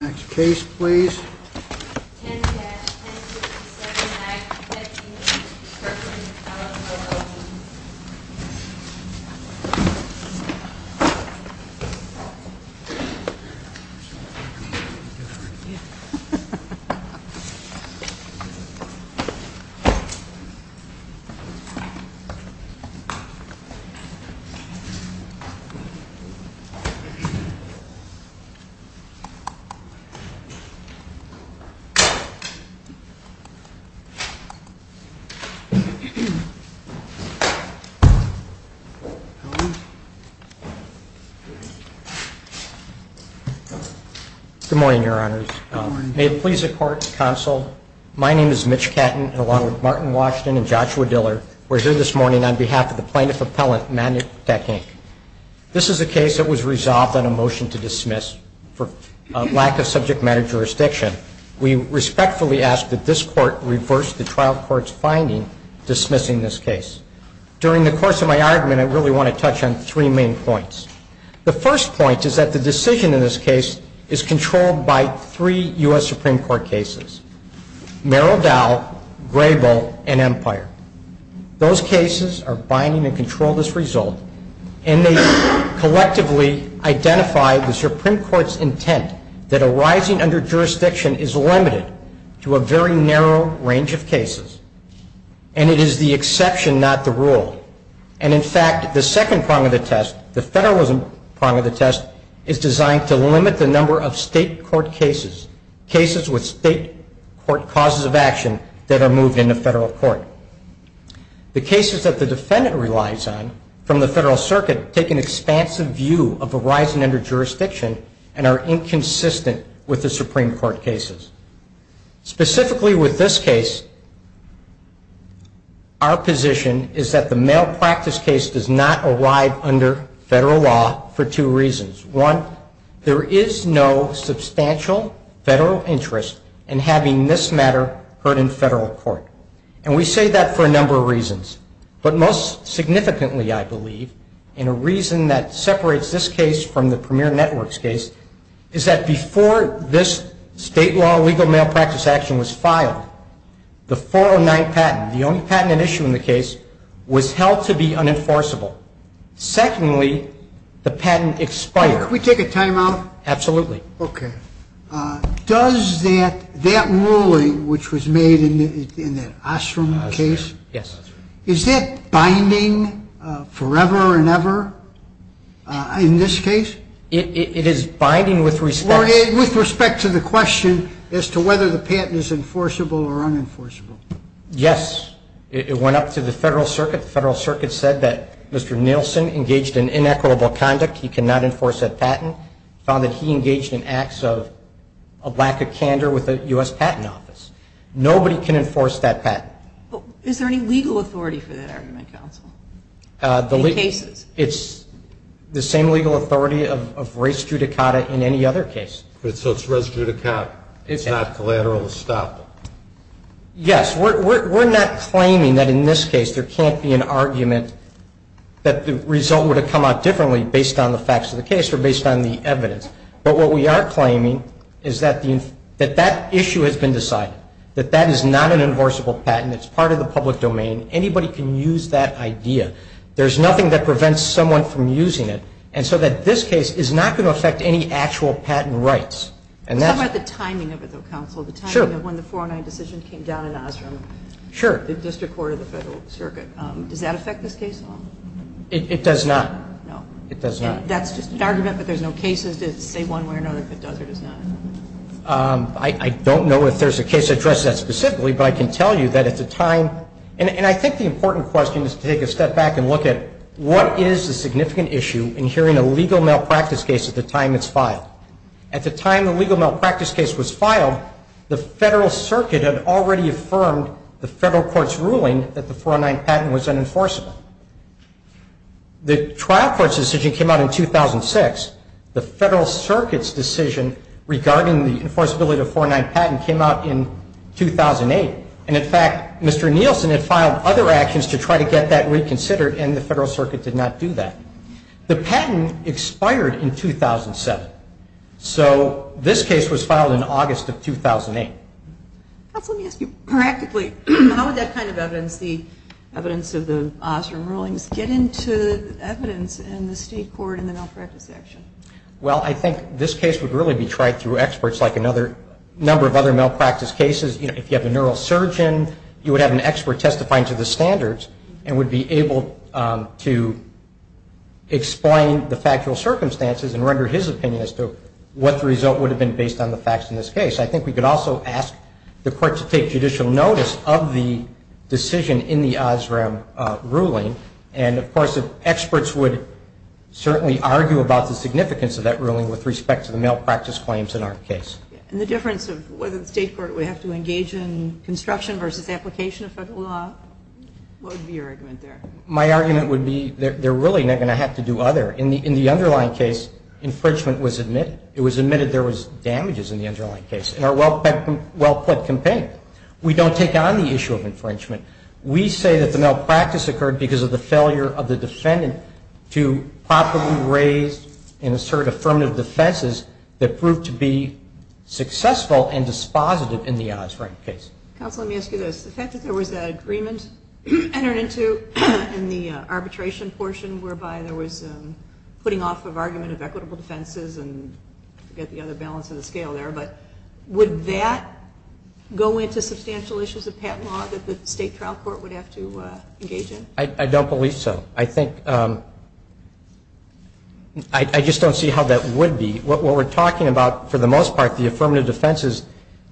Next case please. 10-1067-9158 Kirkland, Ellis, LLP Good morning, your honors. May it please the court and counsel, my name is Mitch Catton, along with Martin Washington and Joshua Diller. We're here this morning on behalf of the plaintiff appellant, Magnetek, Inc. This is a case that was resolved on a motion to dismiss for lack of subject matter jurisdiction. We respectfully ask that this court reverse the trial court's finding dismissing this case. During the course of my argument, I really want to touch on three main points. The first point is that the decision in this case is controlled by three U.S. Supreme Court cases, Merrill Dow, Grable, and Empire. Those cases are binding and control this result, and they collectively identify the Supreme Court's intent that a rising under jurisdiction is limited to a very narrow range of cases. And it is the exception, not the rule. And in fact, the second prong of the test, the federalism prong of the test, is designed to limit the number of state court cases, cases with state court causes of action that are moved into federal court. The cases that the defendant relies on from the federal circuit take an expansive view of a rising under jurisdiction and are inconsistent with the Supreme Court cases. Specifically with this case, our position is that the malpractice case does not arrive under federal law for two reasons. One, there is no substantial federal interest in having this matter heard in federal court. And we say that for a number of reasons. But most significantly, I believe, in a reason that separates this case from the Premier Networks case, is that before this state law legal malpractice action was filed, the 409 patent, the only patent at issue in the case, was held to be unenforceable. Secondly, the patent expired. Can we take a time out? Absolutely. Okay. Does that ruling which was made in that Osram case, is that binding forever and ever in this case? It is binding with respect to the question as to whether the patent is enforceable or unenforceable. Yes. It went up to the federal circuit. The federal circuit said that Mr. Nielsen engaged in inequitable conduct. He cannot enforce that patent. He found that he engaged in acts of lack of candor with the U.S. Patent Office. Nobody can enforce that patent. Is there any legal authority for that argument, counsel, in cases? It's the same legal authority of res judicata in any other case. So it's res judicata. It's not collateral estoppel. Yes. We're not claiming that in this case there can't be an argument that the result would have come out differently based on the facts of the case or based on the evidence. But what we are claiming is that that issue has been decided, that that is not an enforceable patent. It's part of the public domain. Anybody can use that idea. There's nothing that prevents someone from using it. And so that this case is not going to affect any actual patent rights. Let's talk about the timing of it, though, counsel. Sure. The timing of when the 409 decision came down in Osram. Sure. The district court of the Federal Circuit. Does that affect this case at all? It does not. No. It does not. And that's just an argument, but there's no cases to say one way or another if it does or does not. I don't know if there's a case that addresses that specifically, but I can tell you that at the time and I think the important question is to take a step back and look at what is the significant issue in hearing a legal malpractice case at the time it's filed. At the time the legal malpractice case was filed, the Federal Circuit had already affirmed the Federal Court's ruling that the 409 patent was unenforceable. The trial court's decision came out in 2006. The Federal Circuit's decision regarding the enforceability of the 409 patent came out in 2008. And, in fact, Mr. Nielsen had filed other actions to try to get that reconsidered and the Federal Circuit did not do that. The patent expired in 2007. So this case was filed in August of 2008. Let me ask you, practically, how would that kind of evidence, the evidence of the Osler rulings, get into evidence in the state court in the malpractice section? Well, I think this case would really be tried through experts like a number of other malpractice cases. If you have a neurosurgeon, you would have an expert testifying to the standards and would be able to explain the factual circumstances and render his opinion as to what the result would have been based on the facts in this case. I think we could also ask the court to take judicial notice of the decision in the Osler ruling. And, of course, experts would certainly argue about the significance of that ruling with respect to the malpractice claims in our case. And the difference of whether the state court would have to engage in construction versus application of Federal law? What would be your argument there? My argument would be they're really not going to have to do either. In the underlying case, infringement was admitted. It was admitted there was damages in the underlying case. In our well-put complaint, we don't take on the issue of infringement. We say that the malpractice occurred because of the failure of the defendant to properly raise and assert affirmative defenses that proved to be successful and dispositive in the Osler case. Counsel, let me ask you this. The fact that there was an agreement entered into in the arbitration portion whereby there was putting off of argument of equitable defenses and I forget the other balance of the scale there, but would that go into substantial issues of patent law that the state trial court would have to engage in? I don't believe so. I think I just don't see how that would be. What we're talking about for the most part, the affirmative defenses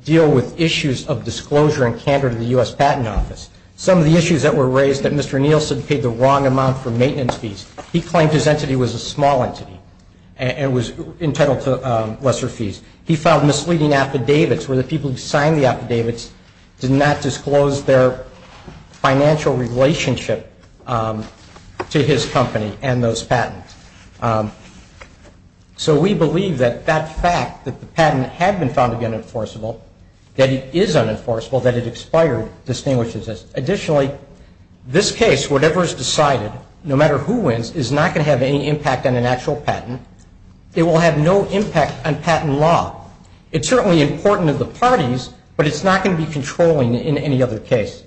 deal with issues of disclosure and candor to the U.S. Patent Office. Some of the issues that were raised that Mr. Nielsen paid the wrong amount for maintenance fees, he claimed his entity was a small entity and was entitled to lesser fees. He filed misleading affidavits where the people who signed the affidavits did not disclose their financial relationship to his company and those patents. So we believe that that fact that the patent had been found to be unenforceable, that it is unenforceable, that it expired, distinguishes us. Additionally, this case, whatever is decided, no matter who wins, is not going to have any impact on an actual patent. It will have no impact on patent law. It's certainly important to the parties, but it's not going to be controlling in any other case.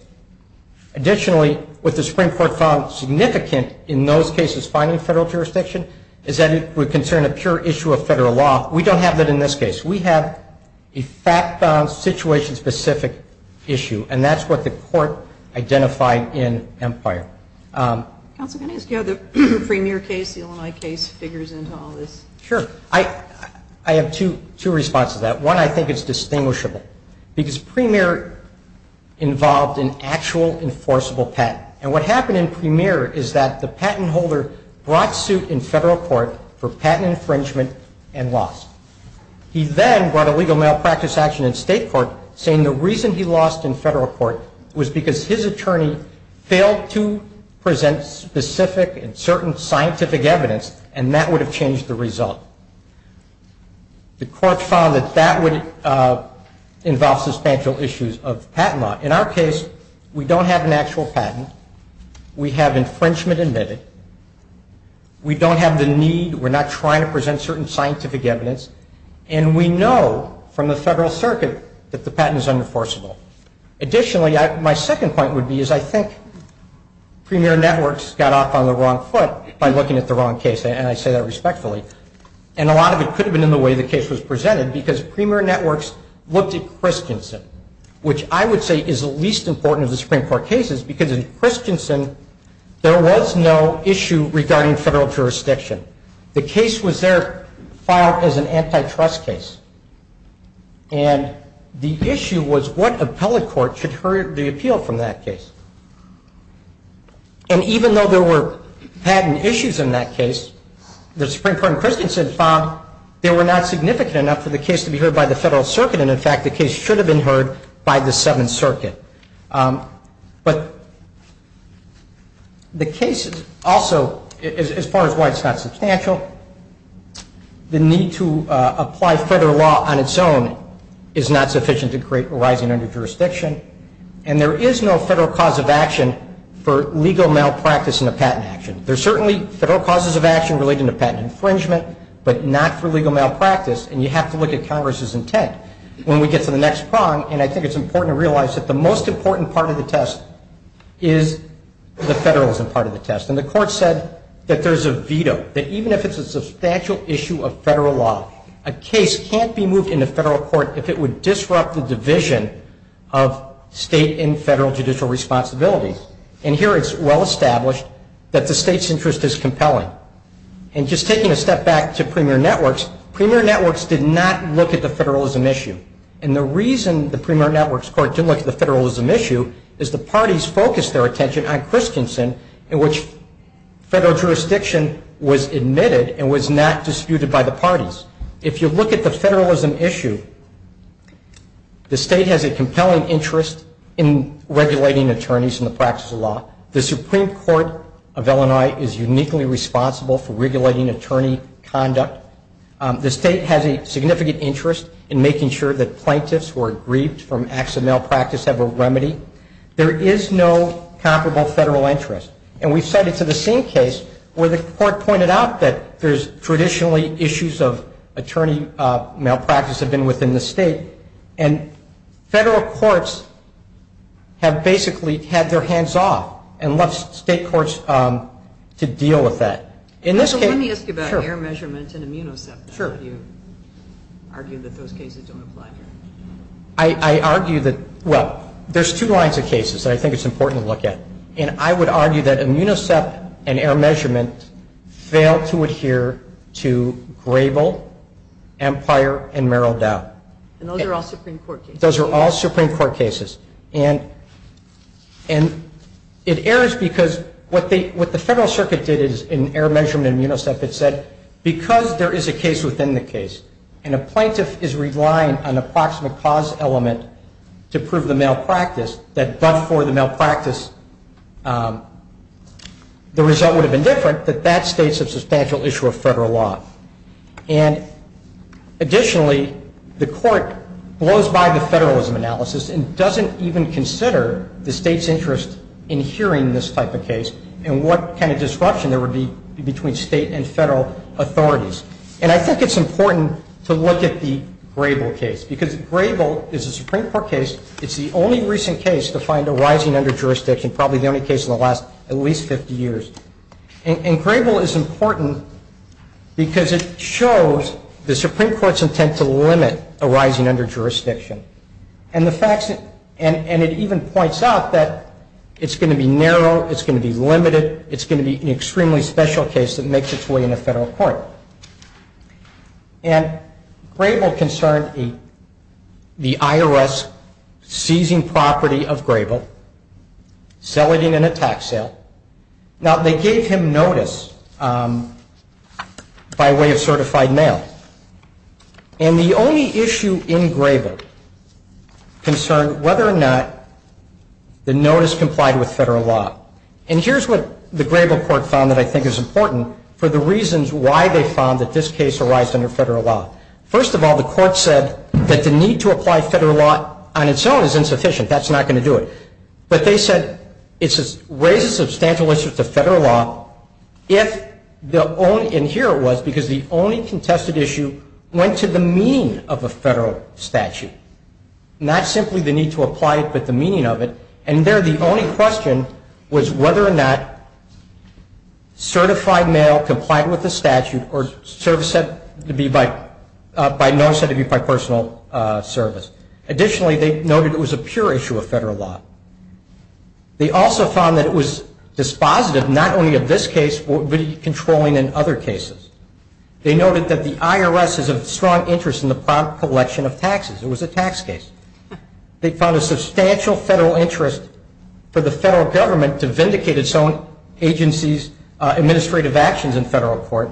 Additionally, what the Supreme Court found significant in those cases finding federal jurisdiction is that it would concern a pure issue of federal law. We don't have that in this case. We have a fact-bound, situation-specific issue, and that's what the court identified in Empire. Counsel, can I ask you how the premier case, the Illinois case, figures into all this? Sure. I have two responses to that. One, I think it's distinguishable because premier involved an actual enforceable patent. And what happened in premier is that the patent holder brought suit in federal court for patent infringement and lost. He then brought a legal malpractice action in state court saying the reason he lost in federal court was because his attorney failed to present specific and certain scientific evidence, and that would have changed the result. The court found that that would involve substantial issues of patent law. In our case, we don't have an actual patent. We have infringement admitted. We don't have the need. We're not trying to present certain scientific evidence. And we know from the Federal Circuit that the patent is unenforceable. Additionally, my second point would be is I think premier networks got off on the wrong foot by looking at the wrong case, and I say that respectfully. And a lot of it could have been in the way the case was presented because premier networks looked at Christensen, which I would say is the least important of the Supreme Court cases because in Christensen there was no issue regarding federal jurisdiction. The case was there filed as an antitrust case, and the issue was what appellate court should hear the appeal from that case. And even though there were patent issues in that case, the Supreme Court in Christensen found they were not significant enough for the case to be heard by the Federal Circuit, and, in fact, the case should have been heard by the Seventh Circuit. But the case also, as far as why it's not substantial, the need to apply federal law on its own is not sufficient to create a rising underjurisdiction, and there is no federal cause of action for legal malpractice in a patent action. There are certainly federal causes of action related to patent infringement, but not for legal malpractice, and you have to look at Congress's intent. When we get to the next prong, and I think it's important to realize that the most important part of the test is the federalism part of the test. And the Court said that there's a veto, that even if it's a substantial issue of federal law, a case can't be moved into federal court if it would disrupt the division of state and federal judicial responsibilities. And here it's well established that the state's interest is compelling. And just taking a step back to Premier Networks, Premier Networks did not look at the federalism issue. And the reason the Premier Networks Court didn't look at the federalism issue is the parties focused their attention on Christensen, in which federal jurisdiction was admitted and was not disputed by the parties. If you look at the federalism issue, the state has a compelling interest in regulating attorneys in the practice of law. The Supreme Court of Illinois is uniquely responsible for regulating attorney conduct. The state has a significant interest in making sure that plaintiffs who are grieved from acts of malpractice have a remedy. There is no comparable federal interest. And we cite it to the same case where the Court pointed out that there's traditionally issues of attorney malpractice have been within the state. And federal courts have basically had their hands off and left state courts to deal with that. In this case, sure. So let me ask you about error measurement and immunosuppression. Sure. You argue that those cases don't apply here. I argue that, well, there's two lines of cases that I think it's important to look at. And I would argue that immunosuppression and error measurement fail to adhere to Grable, Empire, and Merrill Dow. And those are all Supreme Court cases. Those are all Supreme Court cases. And it errors because what the Federal Circuit did in error measurement and immunosuppression, it said because there is a case within the case and a plaintiff is relying on an approximate cause element to prove the malpractice, that but for the malpractice the result would have been different, that that states a substantial issue of federal law. And additionally, the Court blows by the federalism analysis and doesn't even consider the state's interest in hearing this type of case and what kind of disruption there would be between state and federal authorities. And I think it's important to look at the Grable case because Grable is a Supreme Court case. It's the only recent case to find a rising under jurisdiction, probably the only case in the last at least 50 years. And Grable is important because it shows the Supreme Court's intent to limit a rising under jurisdiction. And it even points out that it's going to be narrow, it's going to be limited, it's going to be an extremely special case that makes its way into federal court. And Grable concerned the IRS seizing property of Grable, selling it in a tax sale. Now, they gave him notice by way of certified mail. And the only issue in Grable concerned whether or not the notice complied with federal law. And here's what the Grable court found that I think is important for the reasons why they found that this case arised under federal law. First of all, the court said that the need to apply federal law on its own is insufficient. That's not going to do it. But they said it raises a substantial issue to federal law if the only, and here it was because the only contested issue went to the meaning of a federal statute, not simply the need to apply it but the meaning of it. And there the only question was whether or not certified mail complied with the statute or notice had to be by personal service. Additionally, they noted it was a pure issue of federal law. They also found that it was dispositive not only of this case but controlling in other cases. They noted that the IRS is of strong interest in the collection of taxes. It was a tax case. They found a substantial federal interest for the federal government to vindicate its own agency's administrative actions in federal court.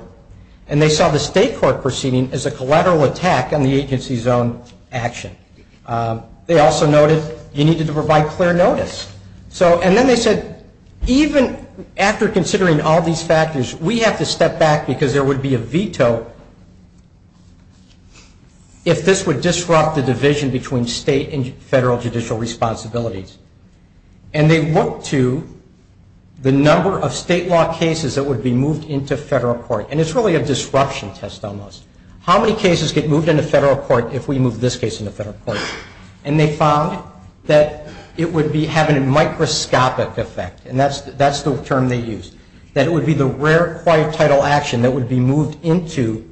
And they saw the state court proceeding as a collateral attack on the agency's own action. They also noted you needed to provide clear notice. And then they said even after considering all these factors, So if this would disrupt the division between state and federal judicial responsibilities. And they looked to the number of state law cases that would be moved into federal court. And it's really a disruption test almost. How many cases get moved into federal court if we move this case into federal court? And they found that it would be having a microscopic effect. And that's the term they used. That it would be the rare quiet title action that would be moved into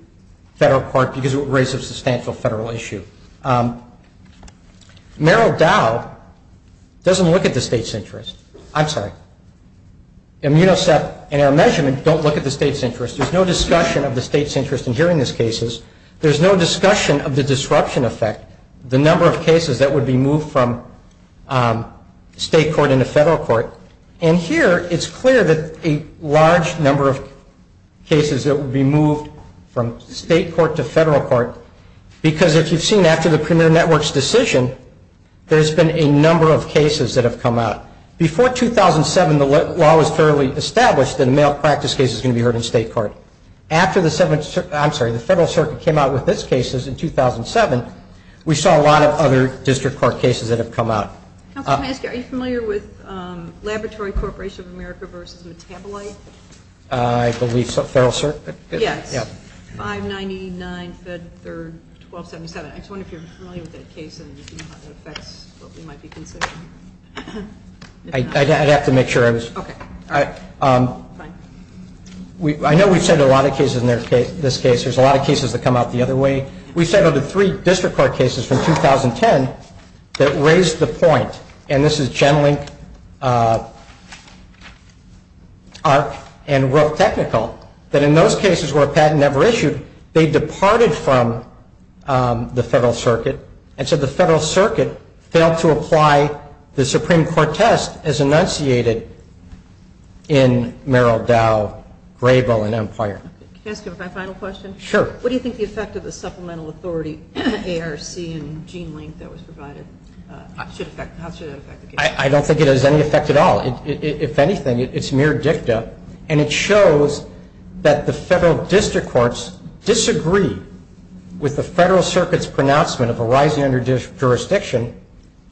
federal court because it would raise a substantial federal issue. Merrill Dow doesn't look at the state's interest. I'm sorry. Immunosec and our measurement don't look at the state's interest. There's no discussion of the state's interest in hearing these cases. There's no discussion of the disruption effect, the number of cases that would be moved from state court into federal court. And here it's clear that a large number of cases that would be moved from state court to federal court because if you've seen after the premier network's decision, there's been a number of cases that have come out. Before 2007 the law was fairly established that a male practice case was going to be heard in state court. After the federal circuit came out with this case in 2007, we saw a lot of other district court cases that have come out. Counsel, can I ask you, are you familiar with Laboratory Corporation of America versus Metabolite? I believe so. Federal circuit? Yes. Yeah. 599 Fed Third 1277. I just wonder if you're familiar with that case and if you know how that affects what we might be considering. I'd have to make sure I was. Okay. All right. Fine. I know we've said a lot of cases in this case. There's a lot of cases that come out the other way. We settled three district court cases from 2010 that raised the point, and this is Genlink, ARC, and Rope Technical, that in those cases where a patent never issued they departed from the federal circuit and so the federal circuit failed to apply the Supreme Court test as enunciated in Merrill, Dow, Grable, and Empire. Can I ask you my final question? Sure. What do you think the effect of the supplemental authority, ARC and Genlink that was provided, how should that affect the case? I don't think it has any effect at all. If anything, it's mere dicta, and it shows that the federal district courts disagree with the federal circuit's pronouncement of a rising under jurisdiction,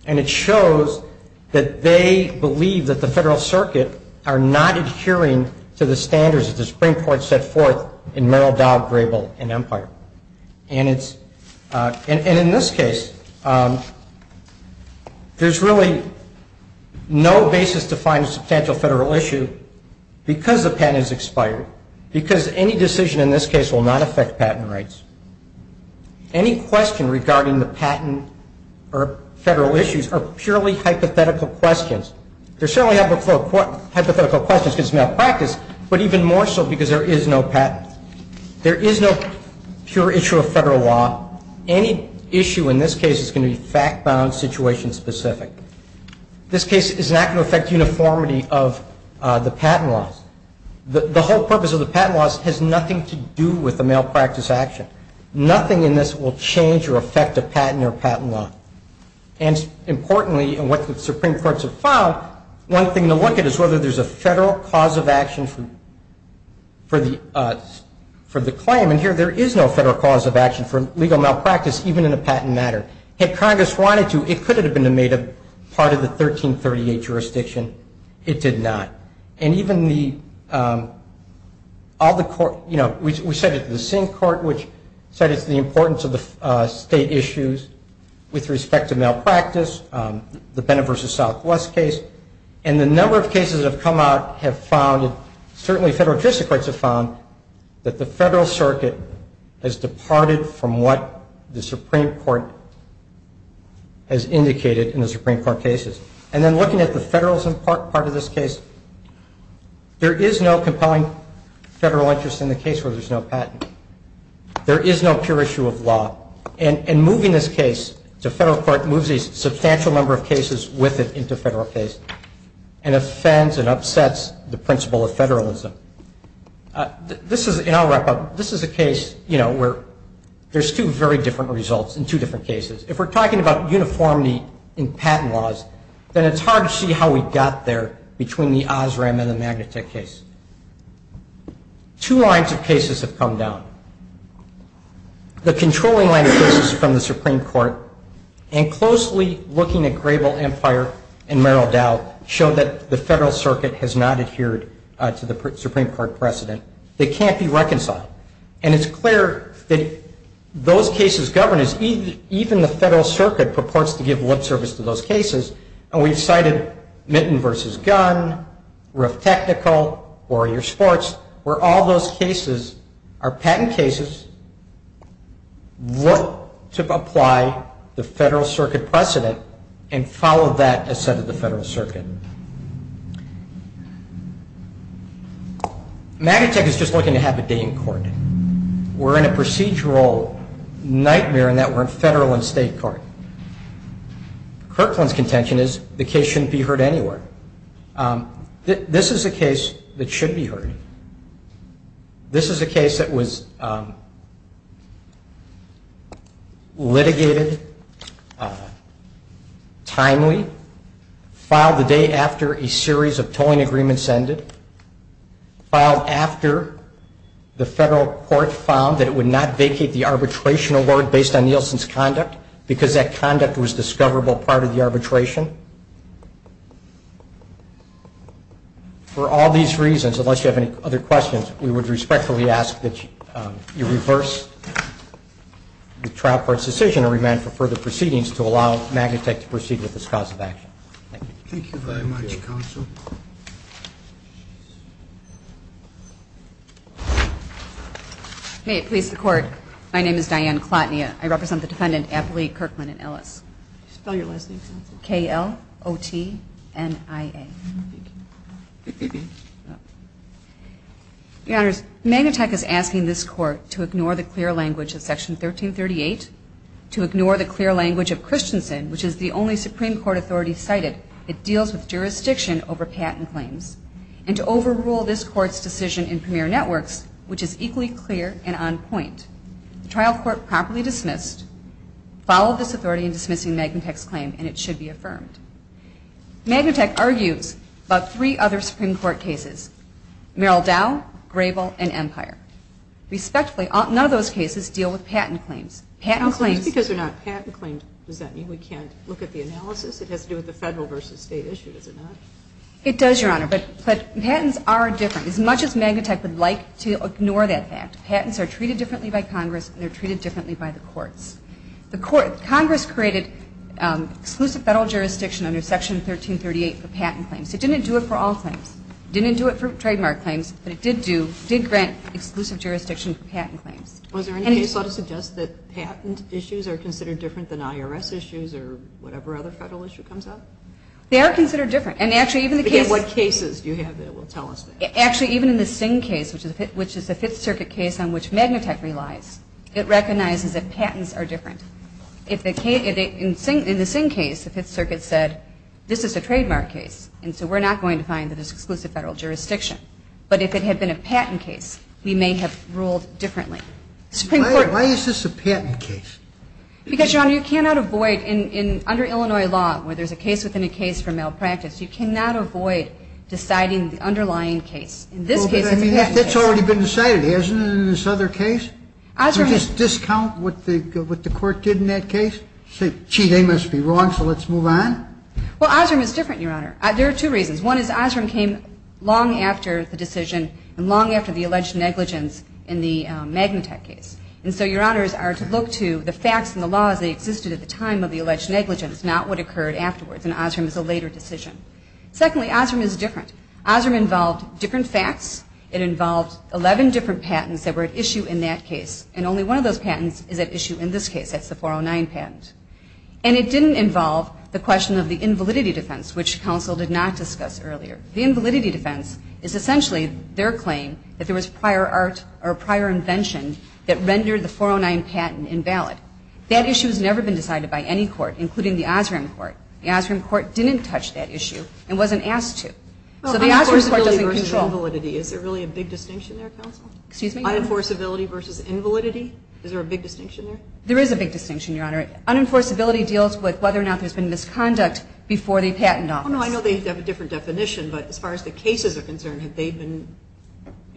and it shows that they believe that the federal circuit are not adhering to the standards that the Supreme Court set forth in Merrill, Dow, Grable, and Empire. And in this case, there's really no basis to find a substantial federal issue because the patent is expired, because any decision in this case will not affect patent rights. Any question regarding the patent or federal issues are purely hypothetical questions. There are certainly hypothetical questions because it's malpractice, but even more so because there is no patent. There is no pure issue of federal law. Any issue in this case is going to be fact-bound, situation-specific. This case is not going to affect uniformity of the patent laws. The whole purpose of the patent laws has nothing to do with the malpractice action. Nothing in this will change or affect a patent or patent law. Importantly, and what the Supreme Courts have found, one thing to look at is whether there's a federal cause of action for the claim, and here there is no federal cause of action for legal malpractice, even in a patent matter. Had Congress wanted to, it could have been made a part of the 1338 jurisdiction. It did not. We said it to the Sink Court, which said it's the importance of the state issues with respect to malpractice, the Bennett v. Southwest case, and the number of cases that have come out have found, certainly federal jurisdiction courts have found, that the federal circuit has departed from what the Supreme Court has indicated in the Supreme Court cases. And then looking at the federalism part of this case, there is no compelling federal interest in the case where there's no patent. There is no pure issue of law. And moving this case to federal court moves a substantial number of cases with it into federal case and offends and upsets the principle of federalism. This is, and I'll wrap up, this is a case, you know, where there's two very different results in two different cases. If we're talking about uniformity in patent laws, then it's hard to see how we got there between the Osram and the Magnatek case. Two lines of cases have come down. The controlling line of cases from the Supreme Court and closely looking at Grable Empire and Merrill Dow show that the federal circuit has not adhered to the Supreme Court precedent. They can't be reconciled. And it's clear that those cases govern us. Even the federal circuit purports to give lip service to those cases. And we've cited Mitten v. Gunn, Roof Technical, Warrior Sports, where all those cases are patent cases, look to apply the federal circuit precedent and follow that as set at the federal circuit. Magnatek is just looking to have a day in court. We're in a procedural nightmare in that we're in federal and state court. Kirkland's contention is the case shouldn't be heard anywhere. This is a case that should be heard. This is a case that was litigated, timely, filed the day after a series of tolling agreements ended, filed after the federal court found that it would not vacate the arbitration award based on Nielsen's conduct because that conduct was a discoverable part of the arbitration. For all these reasons, unless you have any other questions, we would respectfully ask that you reverse the trial court's decision to allow Magnatek to proceed with this cause of action. Thank you. Thank you very much, Counsel. May it please the Court, my name is Diane Klotnia. I represent the Defendant Appali Kirkland and Ellis. Spell your last name, Counsel. K-L-O-T-N-I-A. Your Honors, Magnatek is asking this Court to ignore the clear language of Section 1338 to ignore the clear language of Christensen, which is the only Supreme Court authority cited. It deals with jurisdiction over patent claims, and to overrule this Court's decision in Premier Networks, which is equally clear and on point. The trial court properly dismissed, followed this authority in dismissing Magnatek's claim, and it should be affirmed. Magnatek argues about three other Supreme Court cases, Merrill Dow, Grable, and Empire. Respectfully, none of those cases deal with patent claims. Patent claims. Just because they're not patent claims, does that mean we can't look at the analysis? It has to do with the federal versus state issue, does it not? It does, Your Honor, but patents are different. As much as Magnatek would like to ignore that fact, patents are treated differently by Congress, and they're treated differently by the courts. Congress created exclusive federal jurisdiction under Section 1338 for patent claims. It didn't do it for all claims. It didn't do it for trademark claims, but it did grant exclusive jurisdiction for patent claims. Was there any case that would suggest that patent issues are considered different than IRS issues or whatever other federal issue comes up? They are considered different. And actually, even the case. Again, what cases do you have that will tell us that? Actually, even in the Singh case, which is the Fifth Circuit case on which Magnatek relies, it recognizes that patents are different. In the Singh case, the Fifth Circuit said, this is a trademark case, and so we're not going to find that it's exclusive federal jurisdiction. But if it had been a patent case, we may have ruled differently. Why is this a patent case? Because, Your Honor, you cannot avoid, under Illinois law, where there's a case within a case for malpractice, you cannot avoid deciding the underlying case. In this case, it's a patent case. But that's already been decided, hasn't it, in this other case? Would you just discount what the court did in that case? Say, gee, they must be wrong, so let's move on? Well, Osram is different, Your Honor. There are two reasons. One is Osram came long after the decision and long after the alleged negligence in the Magnatek case. And so Your Honors are to look to the facts and the laws that existed at the time of the alleged negligence, not what occurred afterwards, and Osram is a later decision. Secondly, Osram is different. Osram involved different facts. It involved 11 different patents that were at issue in that case, and only one of those patents is at issue in this case. That's the 409 patent. And it didn't involve the question of the invalidity defense, which counsel did not discuss earlier. The invalidity defense is essentially their claim that there was prior art or prior invention that rendered the 409 patent invalid. That issue has never been decided by any court, including the Osram court. The Osram court didn't touch that issue and wasn't asked to. So the Osram court doesn't control. Well, unenforceability versus invalidity, is there really a big distinction there, counsel? Excuse me? Unenforceability versus invalidity, is there a big distinction there? There is a big distinction, Your Honor. Unenforceability deals with whether or not there's been misconduct before the patent office. Oh, no, I know they have a different definition, but as far as the cases are concerned, have they been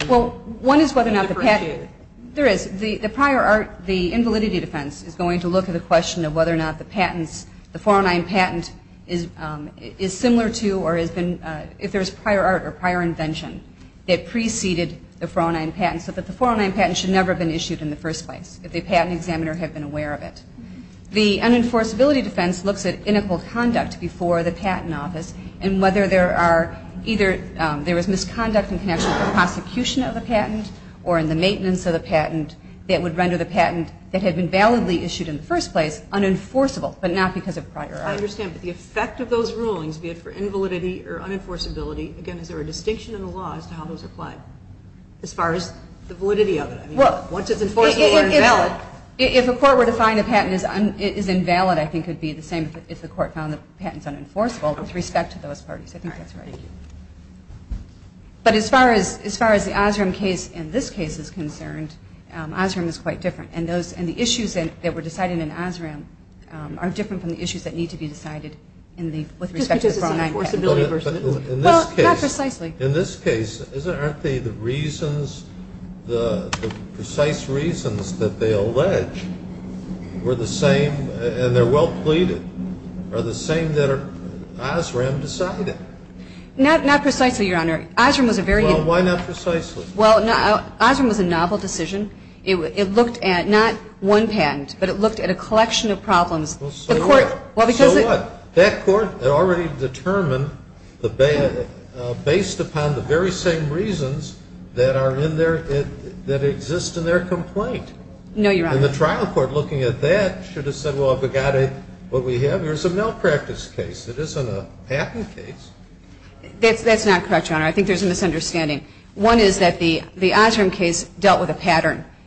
appreciated? Well, one is whether or not the patent – there is. The prior art, the invalidity defense, is going to look at the question of whether or not the patents, the 409 patent, is similar to or has been – if there's prior art or prior invention that preceded the 409 patent, so that the 409 patent should never have been issued in the first place, if the patent examiner had been aware of it. The unenforceability defense looks at inequal conduct before the patent office and whether there are either – there is misconduct in connection with the prosecution of the patent or in the maintenance of the patent that would render the patent that had been validly issued in the first place unenforceable, but not because of prior art. I understand, but the effect of those rulings, be it for invalidity or unenforceability, again, is there a distinction in the law as to how those apply as far as the validity of it? I mean, once it's enforceable or invalid. If a court were to find a patent is invalid, I think it would be the same if the court found the patent is unenforceable with respect to those parties. I think that's right. But as far as the Osram case in this case is concerned, Osram is quite different. And the issues that were decided in Osram are different from the issues that need to be decided with respect to the 409 patent. Well, not precisely. In this case, aren't the reasons, the precise reasons that they allege were the same and they're well pleaded, are the same that Osram decided? Not precisely, Your Honor. Osram was a very – Well, why not precisely? Well, Osram was a novel decision. It looked at not one patent, but it looked at a collection of problems. Well, so what? So what? That court already determined based upon the very same reasons that are in their – that exist in their complaint. No, Your Honor. And the trial court, looking at that, should have said, well, I've got what we have. Here's a malpractice case. It isn't a patent case. That's not correct, Your Honor. I think there's a misunderstanding.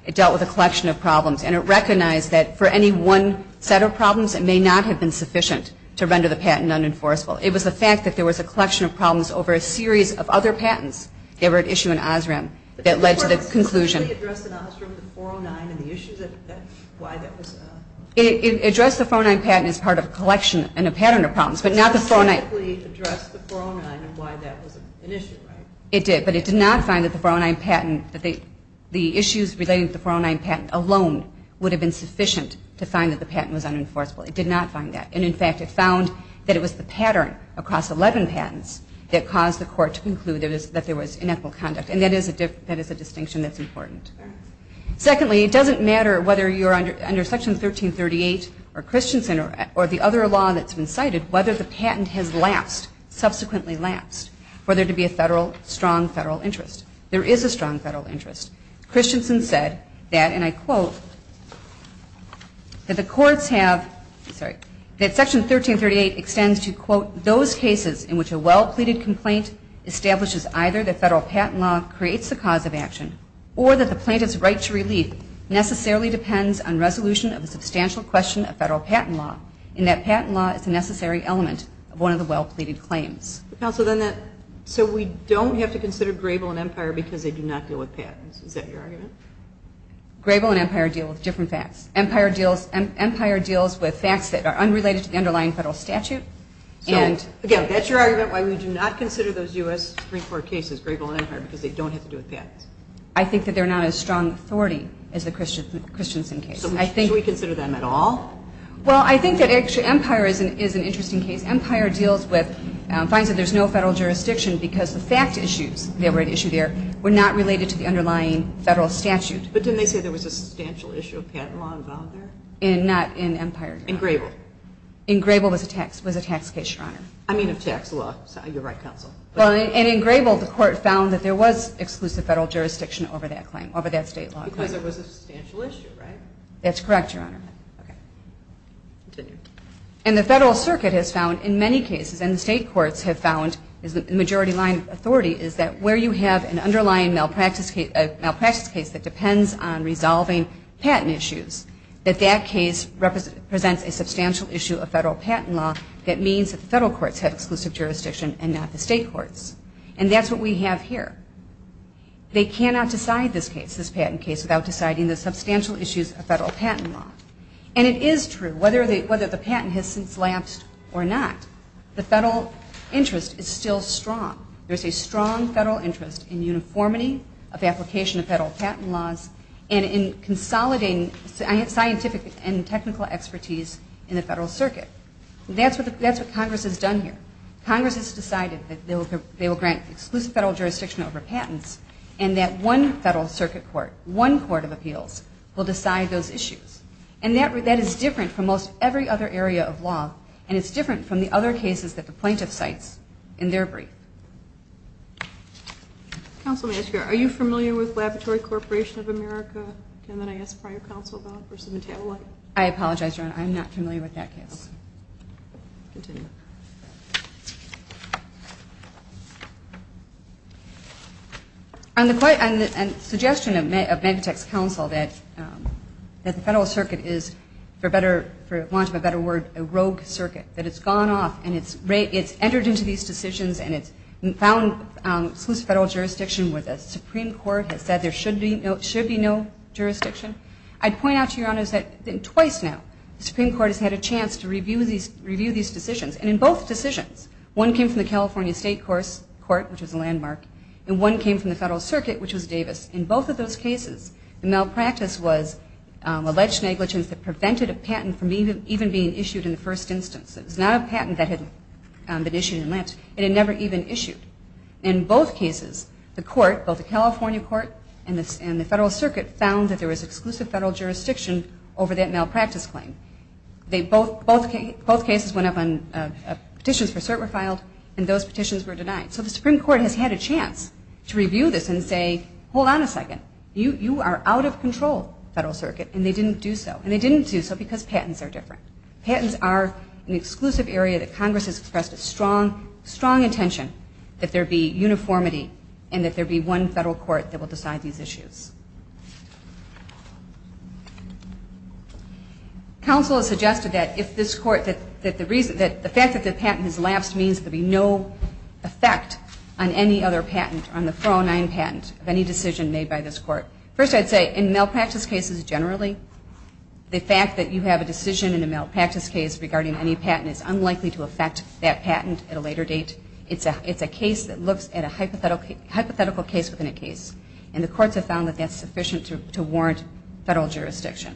It dealt with a collection of problems. And it recognized that for any one set of problems, it may not have been sufficient to render the patent unenforceable. It was the fact that there was a collection of problems over a series of other patents that were at issue in Osram that led to the conclusion. It addressed the 409 patent as part of a collection and a pattern of problems, but not the 409 – It did, but it did not find that the 409 patent, the issues relating to the 409 patent alone would have been sufficient to find that the patent was unenforceable. It did not find that. And, in fact, it found that it was the pattern across 11 patents that caused the court to conclude that there was inequitable conduct. And that is a distinction that's important. Secondly, it doesn't matter whether you're under Section 1338 or Christensen or the other law that's been cited whether the patent has lapsed, subsequently lapsed, for there to be a strong federal interest. There is a strong federal interest. Christensen said that, and I quote, that the courts have, sorry, that Section 1338 extends to, quote, those cases in which a well-pleaded complaint establishes either that federal patent law creates the cause of action or that the plaintiff's right to relief necessarily depends on resolution of the substantial question of federal patent law and that patent law is a necessary element of one of the well-pleaded claims. Counsel, then that, so we don't have to consider Grable and Empire because they do not deal with patents. Is that your argument? Grable and Empire deal with different facts. Empire deals with facts that are unrelated to the underlying federal statute. So, again, that's your argument why we do not consider those U.S. Supreme Court cases, Grable and Empire, because they don't have to do with patents. I think that they're not as strong an authority as the Christensen case. So should we consider them at all? Well, I think that actually Empire is an interesting case. Empire deals with, finds that there's no federal jurisdiction because the fact issues that were at issue there were not related to the underlying federal statute. But didn't they say there was a substantial issue of patent law involved there? Not in Empire. In Grable. In Grable was a tax case, Your Honor. I mean of tax law. You're right, Counsel. And in Grable the court found that there was exclusive federal jurisdiction over that claim, over that state law claim. Because it was a substantial issue, right? That's correct, Your Honor. Okay. Continue. And the Federal Circuit has found in many cases, and the state courts have found as the majority line authority, is that where you have an underlying malpractice case that depends on resolving patent issues, that that case presents a substantial issue of federal patent law that means that the federal courts have exclusive jurisdiction and not the state courts. And that's what we have here. They cannot decide this case, this patent case, without deciding the substantial issues of federal patent law. And it is true. Whether the patent has since lapsed or not, the federal interest is still strong. There's a strong federal interest in uniformity of application of federal patent laws and in consolidating scientific and technical expertise in the Federal Circuit. That's what Congress has done here. Congress has decided that they will grant exclusive federal jurisdiction over patents and that one Federal Circuit Court, one court of appeals will decide those issues. And that is different from most every other area of law, and it's different from the other cases that the plaintiff cites in their brief. Counsel, may I ask you, are you familiar with Laboratory Corporation of America? And then I ask prior counsel to offer some tabloid. I apologize, Your Honor. I'm not familiar with that case. Continue. On the suggestion of Megatech's counsel that the Federal Circuit is, for want of a better word, a rogue circuit, that it's gone off and it's entered into these decisions and it's found exclusive federal jurisdiction where the Supreme Court has said there should be no jurisdiction, I'd point out to Your Honors that twice now the Supreme Court has had a And in both decisions, one came from the California State Court, which was the landmark, and one came from the Federal Circuit, which was Davis. In both of those cases, the malpractice was alleged negligence that prevented a patent from even being issued in the first instance. It was not a patent that had been issued in lapse. It had never even issued. In both cases, the court, both the California court and the Federal Circuit, found that there was exclusive federal jurisdiction over that malpractice claim. Both cases went up on petitions for cert were filed, and those petitions were denied. So the Supreme Court has had a chance to review this and say, hold on a second, you are out of control, Federal Circuit, and they didn't do so. And they didn't do so because patents are different. Patents are an exclusive area that Congress has expressed a strong, strong intention that there be uniformity and that there be one federal court that will decide these issues. The counsel has suggested that if this court, that the fact that the patent has lapsed means there will be no effect on any other patent, on the 409 patent of any decision made by this court. First, I'd say in malpractice cases generally, the fact that you have a decision in a malpractice case regarding any patent is unlikely to affect that patent at a later date. It's a case that looks at a hypothetical case within a case. And the courts have found that that's sufficient to warrant federal jurisdiction.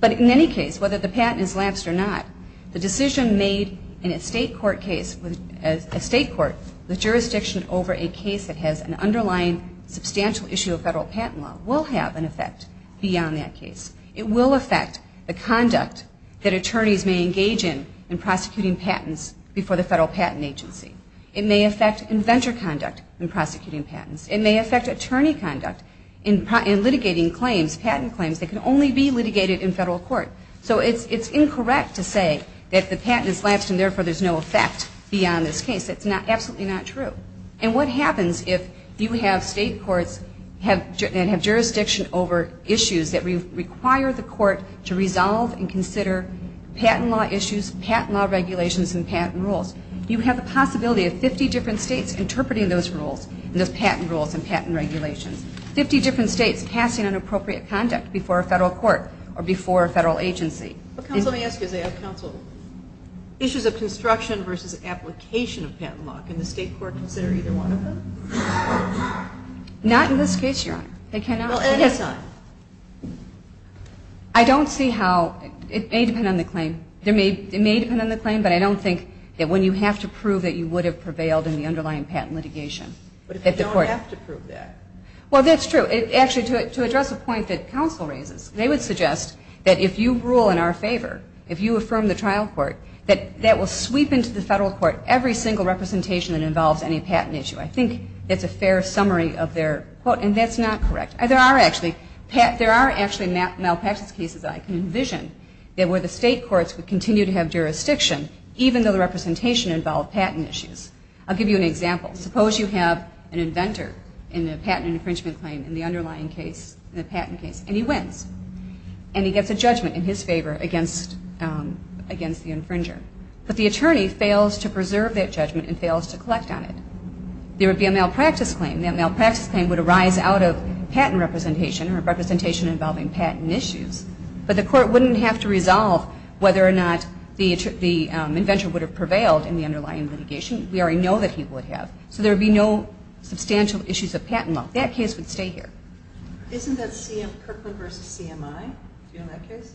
But in any case, whether the patent has lapsed or not, the decision made in a state court case, a state court with jurisdiction over a case that has an underlying substantial issue of federal patent law, will have an effect beyond that case. It will affect the conduct that attorneys may engage in in prosecuting patents before the federal patent agency. It may affect inventor conduct in prosecuting patents. It may affect attorney conduct in litigating claims, patent claims that can only be litigated in federal court. So it's incorrect to say that the patent has lapsed and therefore there's no effect beyond this case. That's absolutely not true. And what happens if you have state courts that have jurisdiction over issues that require the court to resolve and consider patent law issues, patent law regulations, and patent rules? You have the possibility of 50 different states interpreting those rules, those patent rules and patent regulations. Fifty different states casting inappropriate conduct before a federal court or before a federal agency. What counsel may ask is they have counsel issues of construction versus application of patent law. Can the state court consider either one of them? Not in this case, Your Honor. They cannot. Well, at any time. I don't see how. It may depend on the claim. It may depend on the claim, but I don't think that when you have to prove that you would have prevailed in the underlying patent litigation. But if they don't have to prove that. Well, that's true. Actually, to address a point that counsel raises, they would suggest that if you rule in our favor, if you affirm the trial court, that that will sweep into the federal court every single representation that involves any patent issue. I think that's a fair summary of their quote, and that's not correct. There are actually malpractice cases I can envision where the state courts would continue to have jurisdiction, even though the representation involved patent issues. I'll give you an example. Suppose you have an inventor in a patent infringement claim in the underlying case, the patent case, and he wins. And he gets a judgment in his favor against the infringer. But the attorney fails to preserve that judgment and fails to collect on it. There would be a malpractice claim. That malpractice claim would arise out of patent representation or representation involving patent issues. But the court wouldn't have to resolve whether or not the inventor would have prevailed in the underlying litigation. We already know that he would have. So there would be no substantial issues of patent law. That case would stay here. Isn't that Kirkland v. CMI? Do you know that case?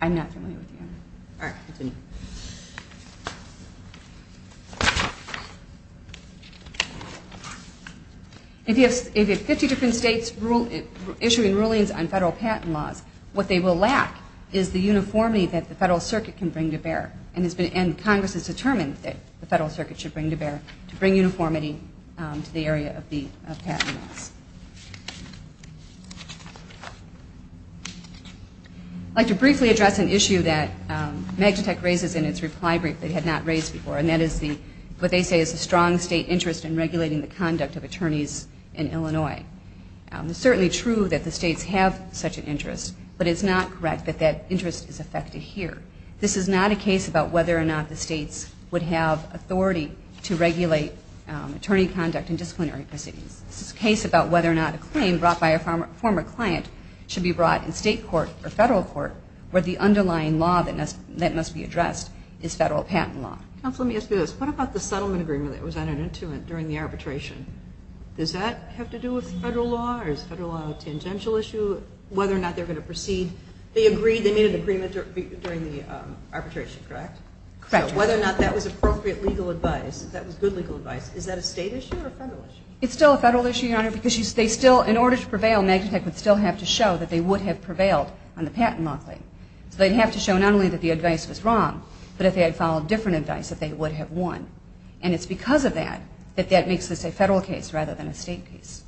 I'm not familiar with the other one. All right, continue. If you have 50 different states issuing rulings on federal patent laws, what they will lack is the uniformity that the federal circuit can bring to bear. And Congress has determined that the federal circuit should bring to bear to bring uniformity to the area of patent laws. I'd like to briefly address an issue that MAGTEC raises in its reply brief that it had not raised before, and that is what they say is a strong state interest in regulating the conduct of attorneys in Illinois. It's certainly true that the states have such an interest, but it's not correct that that interest is affected here. This is not a case about whether or not the states would have authority to regulate attorney conduct in disciplinary proceedings. This is a case about whether or not a claim brought by a former client should be brought in state court or federal court where the underlying law that must be addressed is federal patent law. Counsel, let me ask you this. What about the settlement agreement that was entered into during the arbitration? Does that have to do with federal law? Is federal law a tangential issue, whether or not they're going to proceed? They made an agreement during the arbitration, correct? Correct. So whether or not that was appropriate legal advice, that was good legal advice, is that a state issue or a federal issue? It's still a federal issue, Your Honor, because in order to prevail, MAGTEC would still have to show that they would have prevailed on the patent law claim. So they'd have to show not only that the advice was wrong, but if they had followed different advice that they would have won. And it's because of that that that makes this a federal case rather than a state case.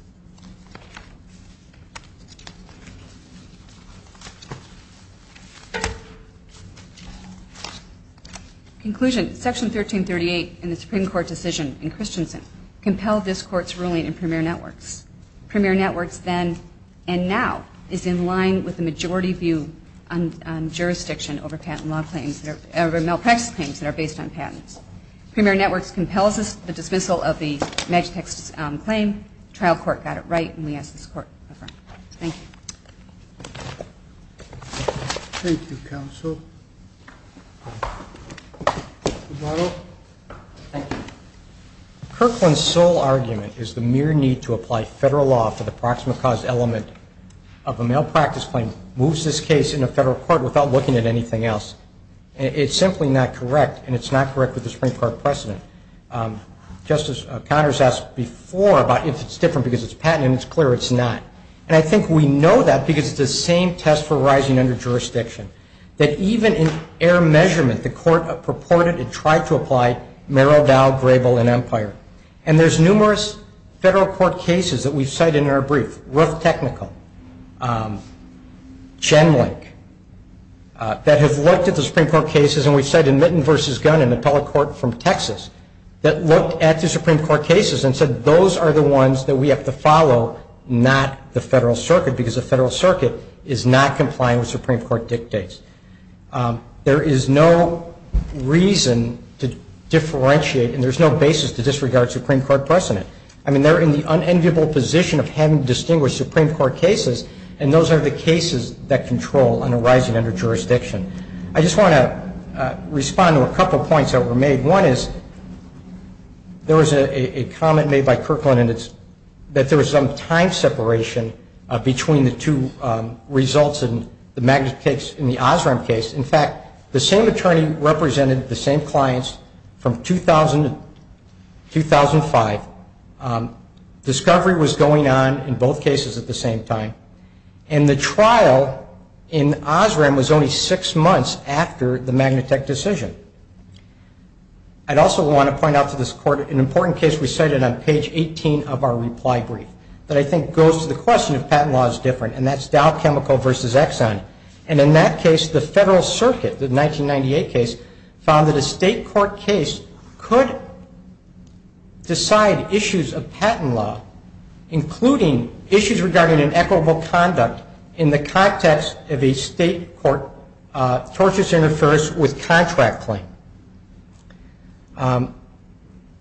Conclusion. Section 1338 in the Supreme Court decision in Christensen compelled this Court's ruling in Premier Networks. Premier Networks then and now is in line with the majority view on jurisdiction over patent law claims, over malpractice claims that are based on patents. Premier Networks compels the dismissal of the MAGTEC claim. The trial court got it right, and we ask this Court to affirm. Thank you. Thank you, counsel. Eduardo. Thank you. Kirkland's sole argument is the mere need to apply federal law for the proximate cause element of a malpractice claim moves this case into federal court without looking at anything else. It's simply not correct, and it's not correct with the Supreme Court precedent. Justice Connors asked before about if it's different because it's patent, and it's clear it's not. And I think we know that because it's the same test for rising under jurisdiction, that even in error measurement, the Court purported and tried to apply Merrill, Dow, Grable, and Empire. And there's numerous federal court cases that we've cited in our brief, Ruth Technical, Chen Link, that have looked at the Supreme Court cases, and we've cited Mitten v. Gunn in the appellate court from Texas, that looked at the Supreme Court cases and said, those are the ones that we have to follow, not the Federal Circuit, because the Federal Circuit is not complying with Supreme Court dictates. There is no reason to differentiate, and there's no basis to disregard Supreme Court precedent. I mean, they're in the unenviable position of having distinguished Supreme Court cases, and those are the cases that control an arising under jurisdiction. I just want to respond to a couple points that were made. One is there was a comment made by Kirkland that there was some time separation between the two results in the Osram case. In fact, the same attorney represented the same clients from 2005. Discovery was going on in both cases at the same time, and the trial in Osram was only six months after the Magnatech decision. I'd also want to point out to this Court an important case we cited on page 18 of our reply brief that I think goes to the question of patent law is different, and that's Dow Chemical v. Exxon. And in that case, the Federal Circuit, the 1998 case, found that a state court case could decide issues of patent law, including issues regarding inequitable conduct in the context of a state court tortious interference with contract claim.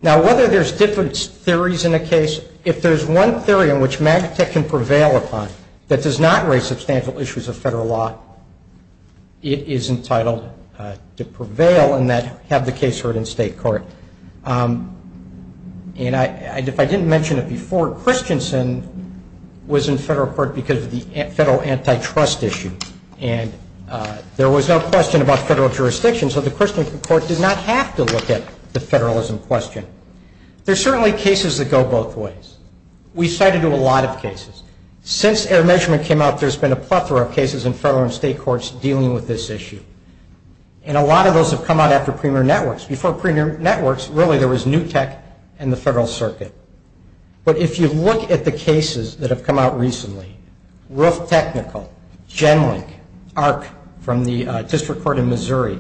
Now, whether there's different theories in a case, if there's one theory in which Magnatech can prevail upon that does not raise substantial issues of Federal law, it is entitled to prevail and have the case heard in state court. And if I didn't mention it before, Christensen was in Federal court because of the Federal antitrust issue, and there was no question about Federal jurisdiction, so the Christensen court did not have to look at the Federalism question. There are certainly cases that go both ways. We cited a lot of cases. Since error measurement came out, there's been a plethora of cases in Federal and state courts dealing with this issue, and a lot of those have come out after premier networks. Before premier networks, really there was New Tech and the Federal Circuit. But if you look at the cases that have come out recently, Roof Technical, Genlink, Arc from the District Court in Missouri,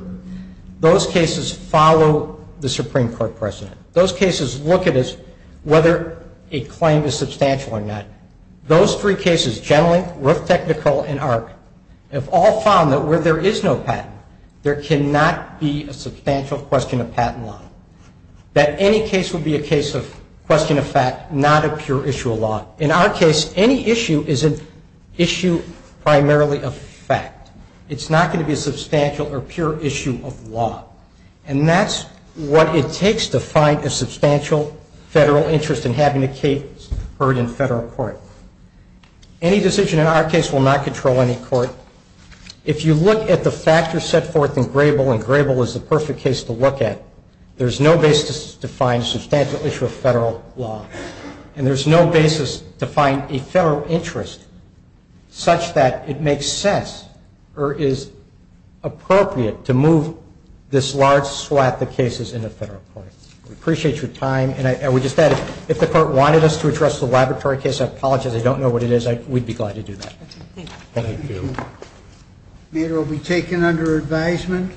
those cases follow the Supreme Court precedent. Those cases look at whether a claim is substantial or not. Those three cases, Genlink, Roof Technical, and Arc, have all found that where there is no patent, there cannot be a substantial question of patent law, that any case would be a case of question of fact, not a pure issue of law. In our case, any issue is an issue primarily of fact. It's not going to be a substantial or pure issue of law, and that's what it takes to find a substantial Federal interest in having a case heard in Federal court. Any decision in our case will not control any court. If you look at the factors set forth in Grable, and Grable is the perfect case to look at, there's no basis to find a substantial issue of Federal law, and there's no basis to find a Federal interest such that it makes sense or is appropriate to move this large swath of cases into Federal court. We appreciate your time, and we just added, if the court wanted us to address the laboratory case, I apologize, I don't know what it is. We'd be glad to do that. Thank you. Thank you. The matter will be taken under advisement.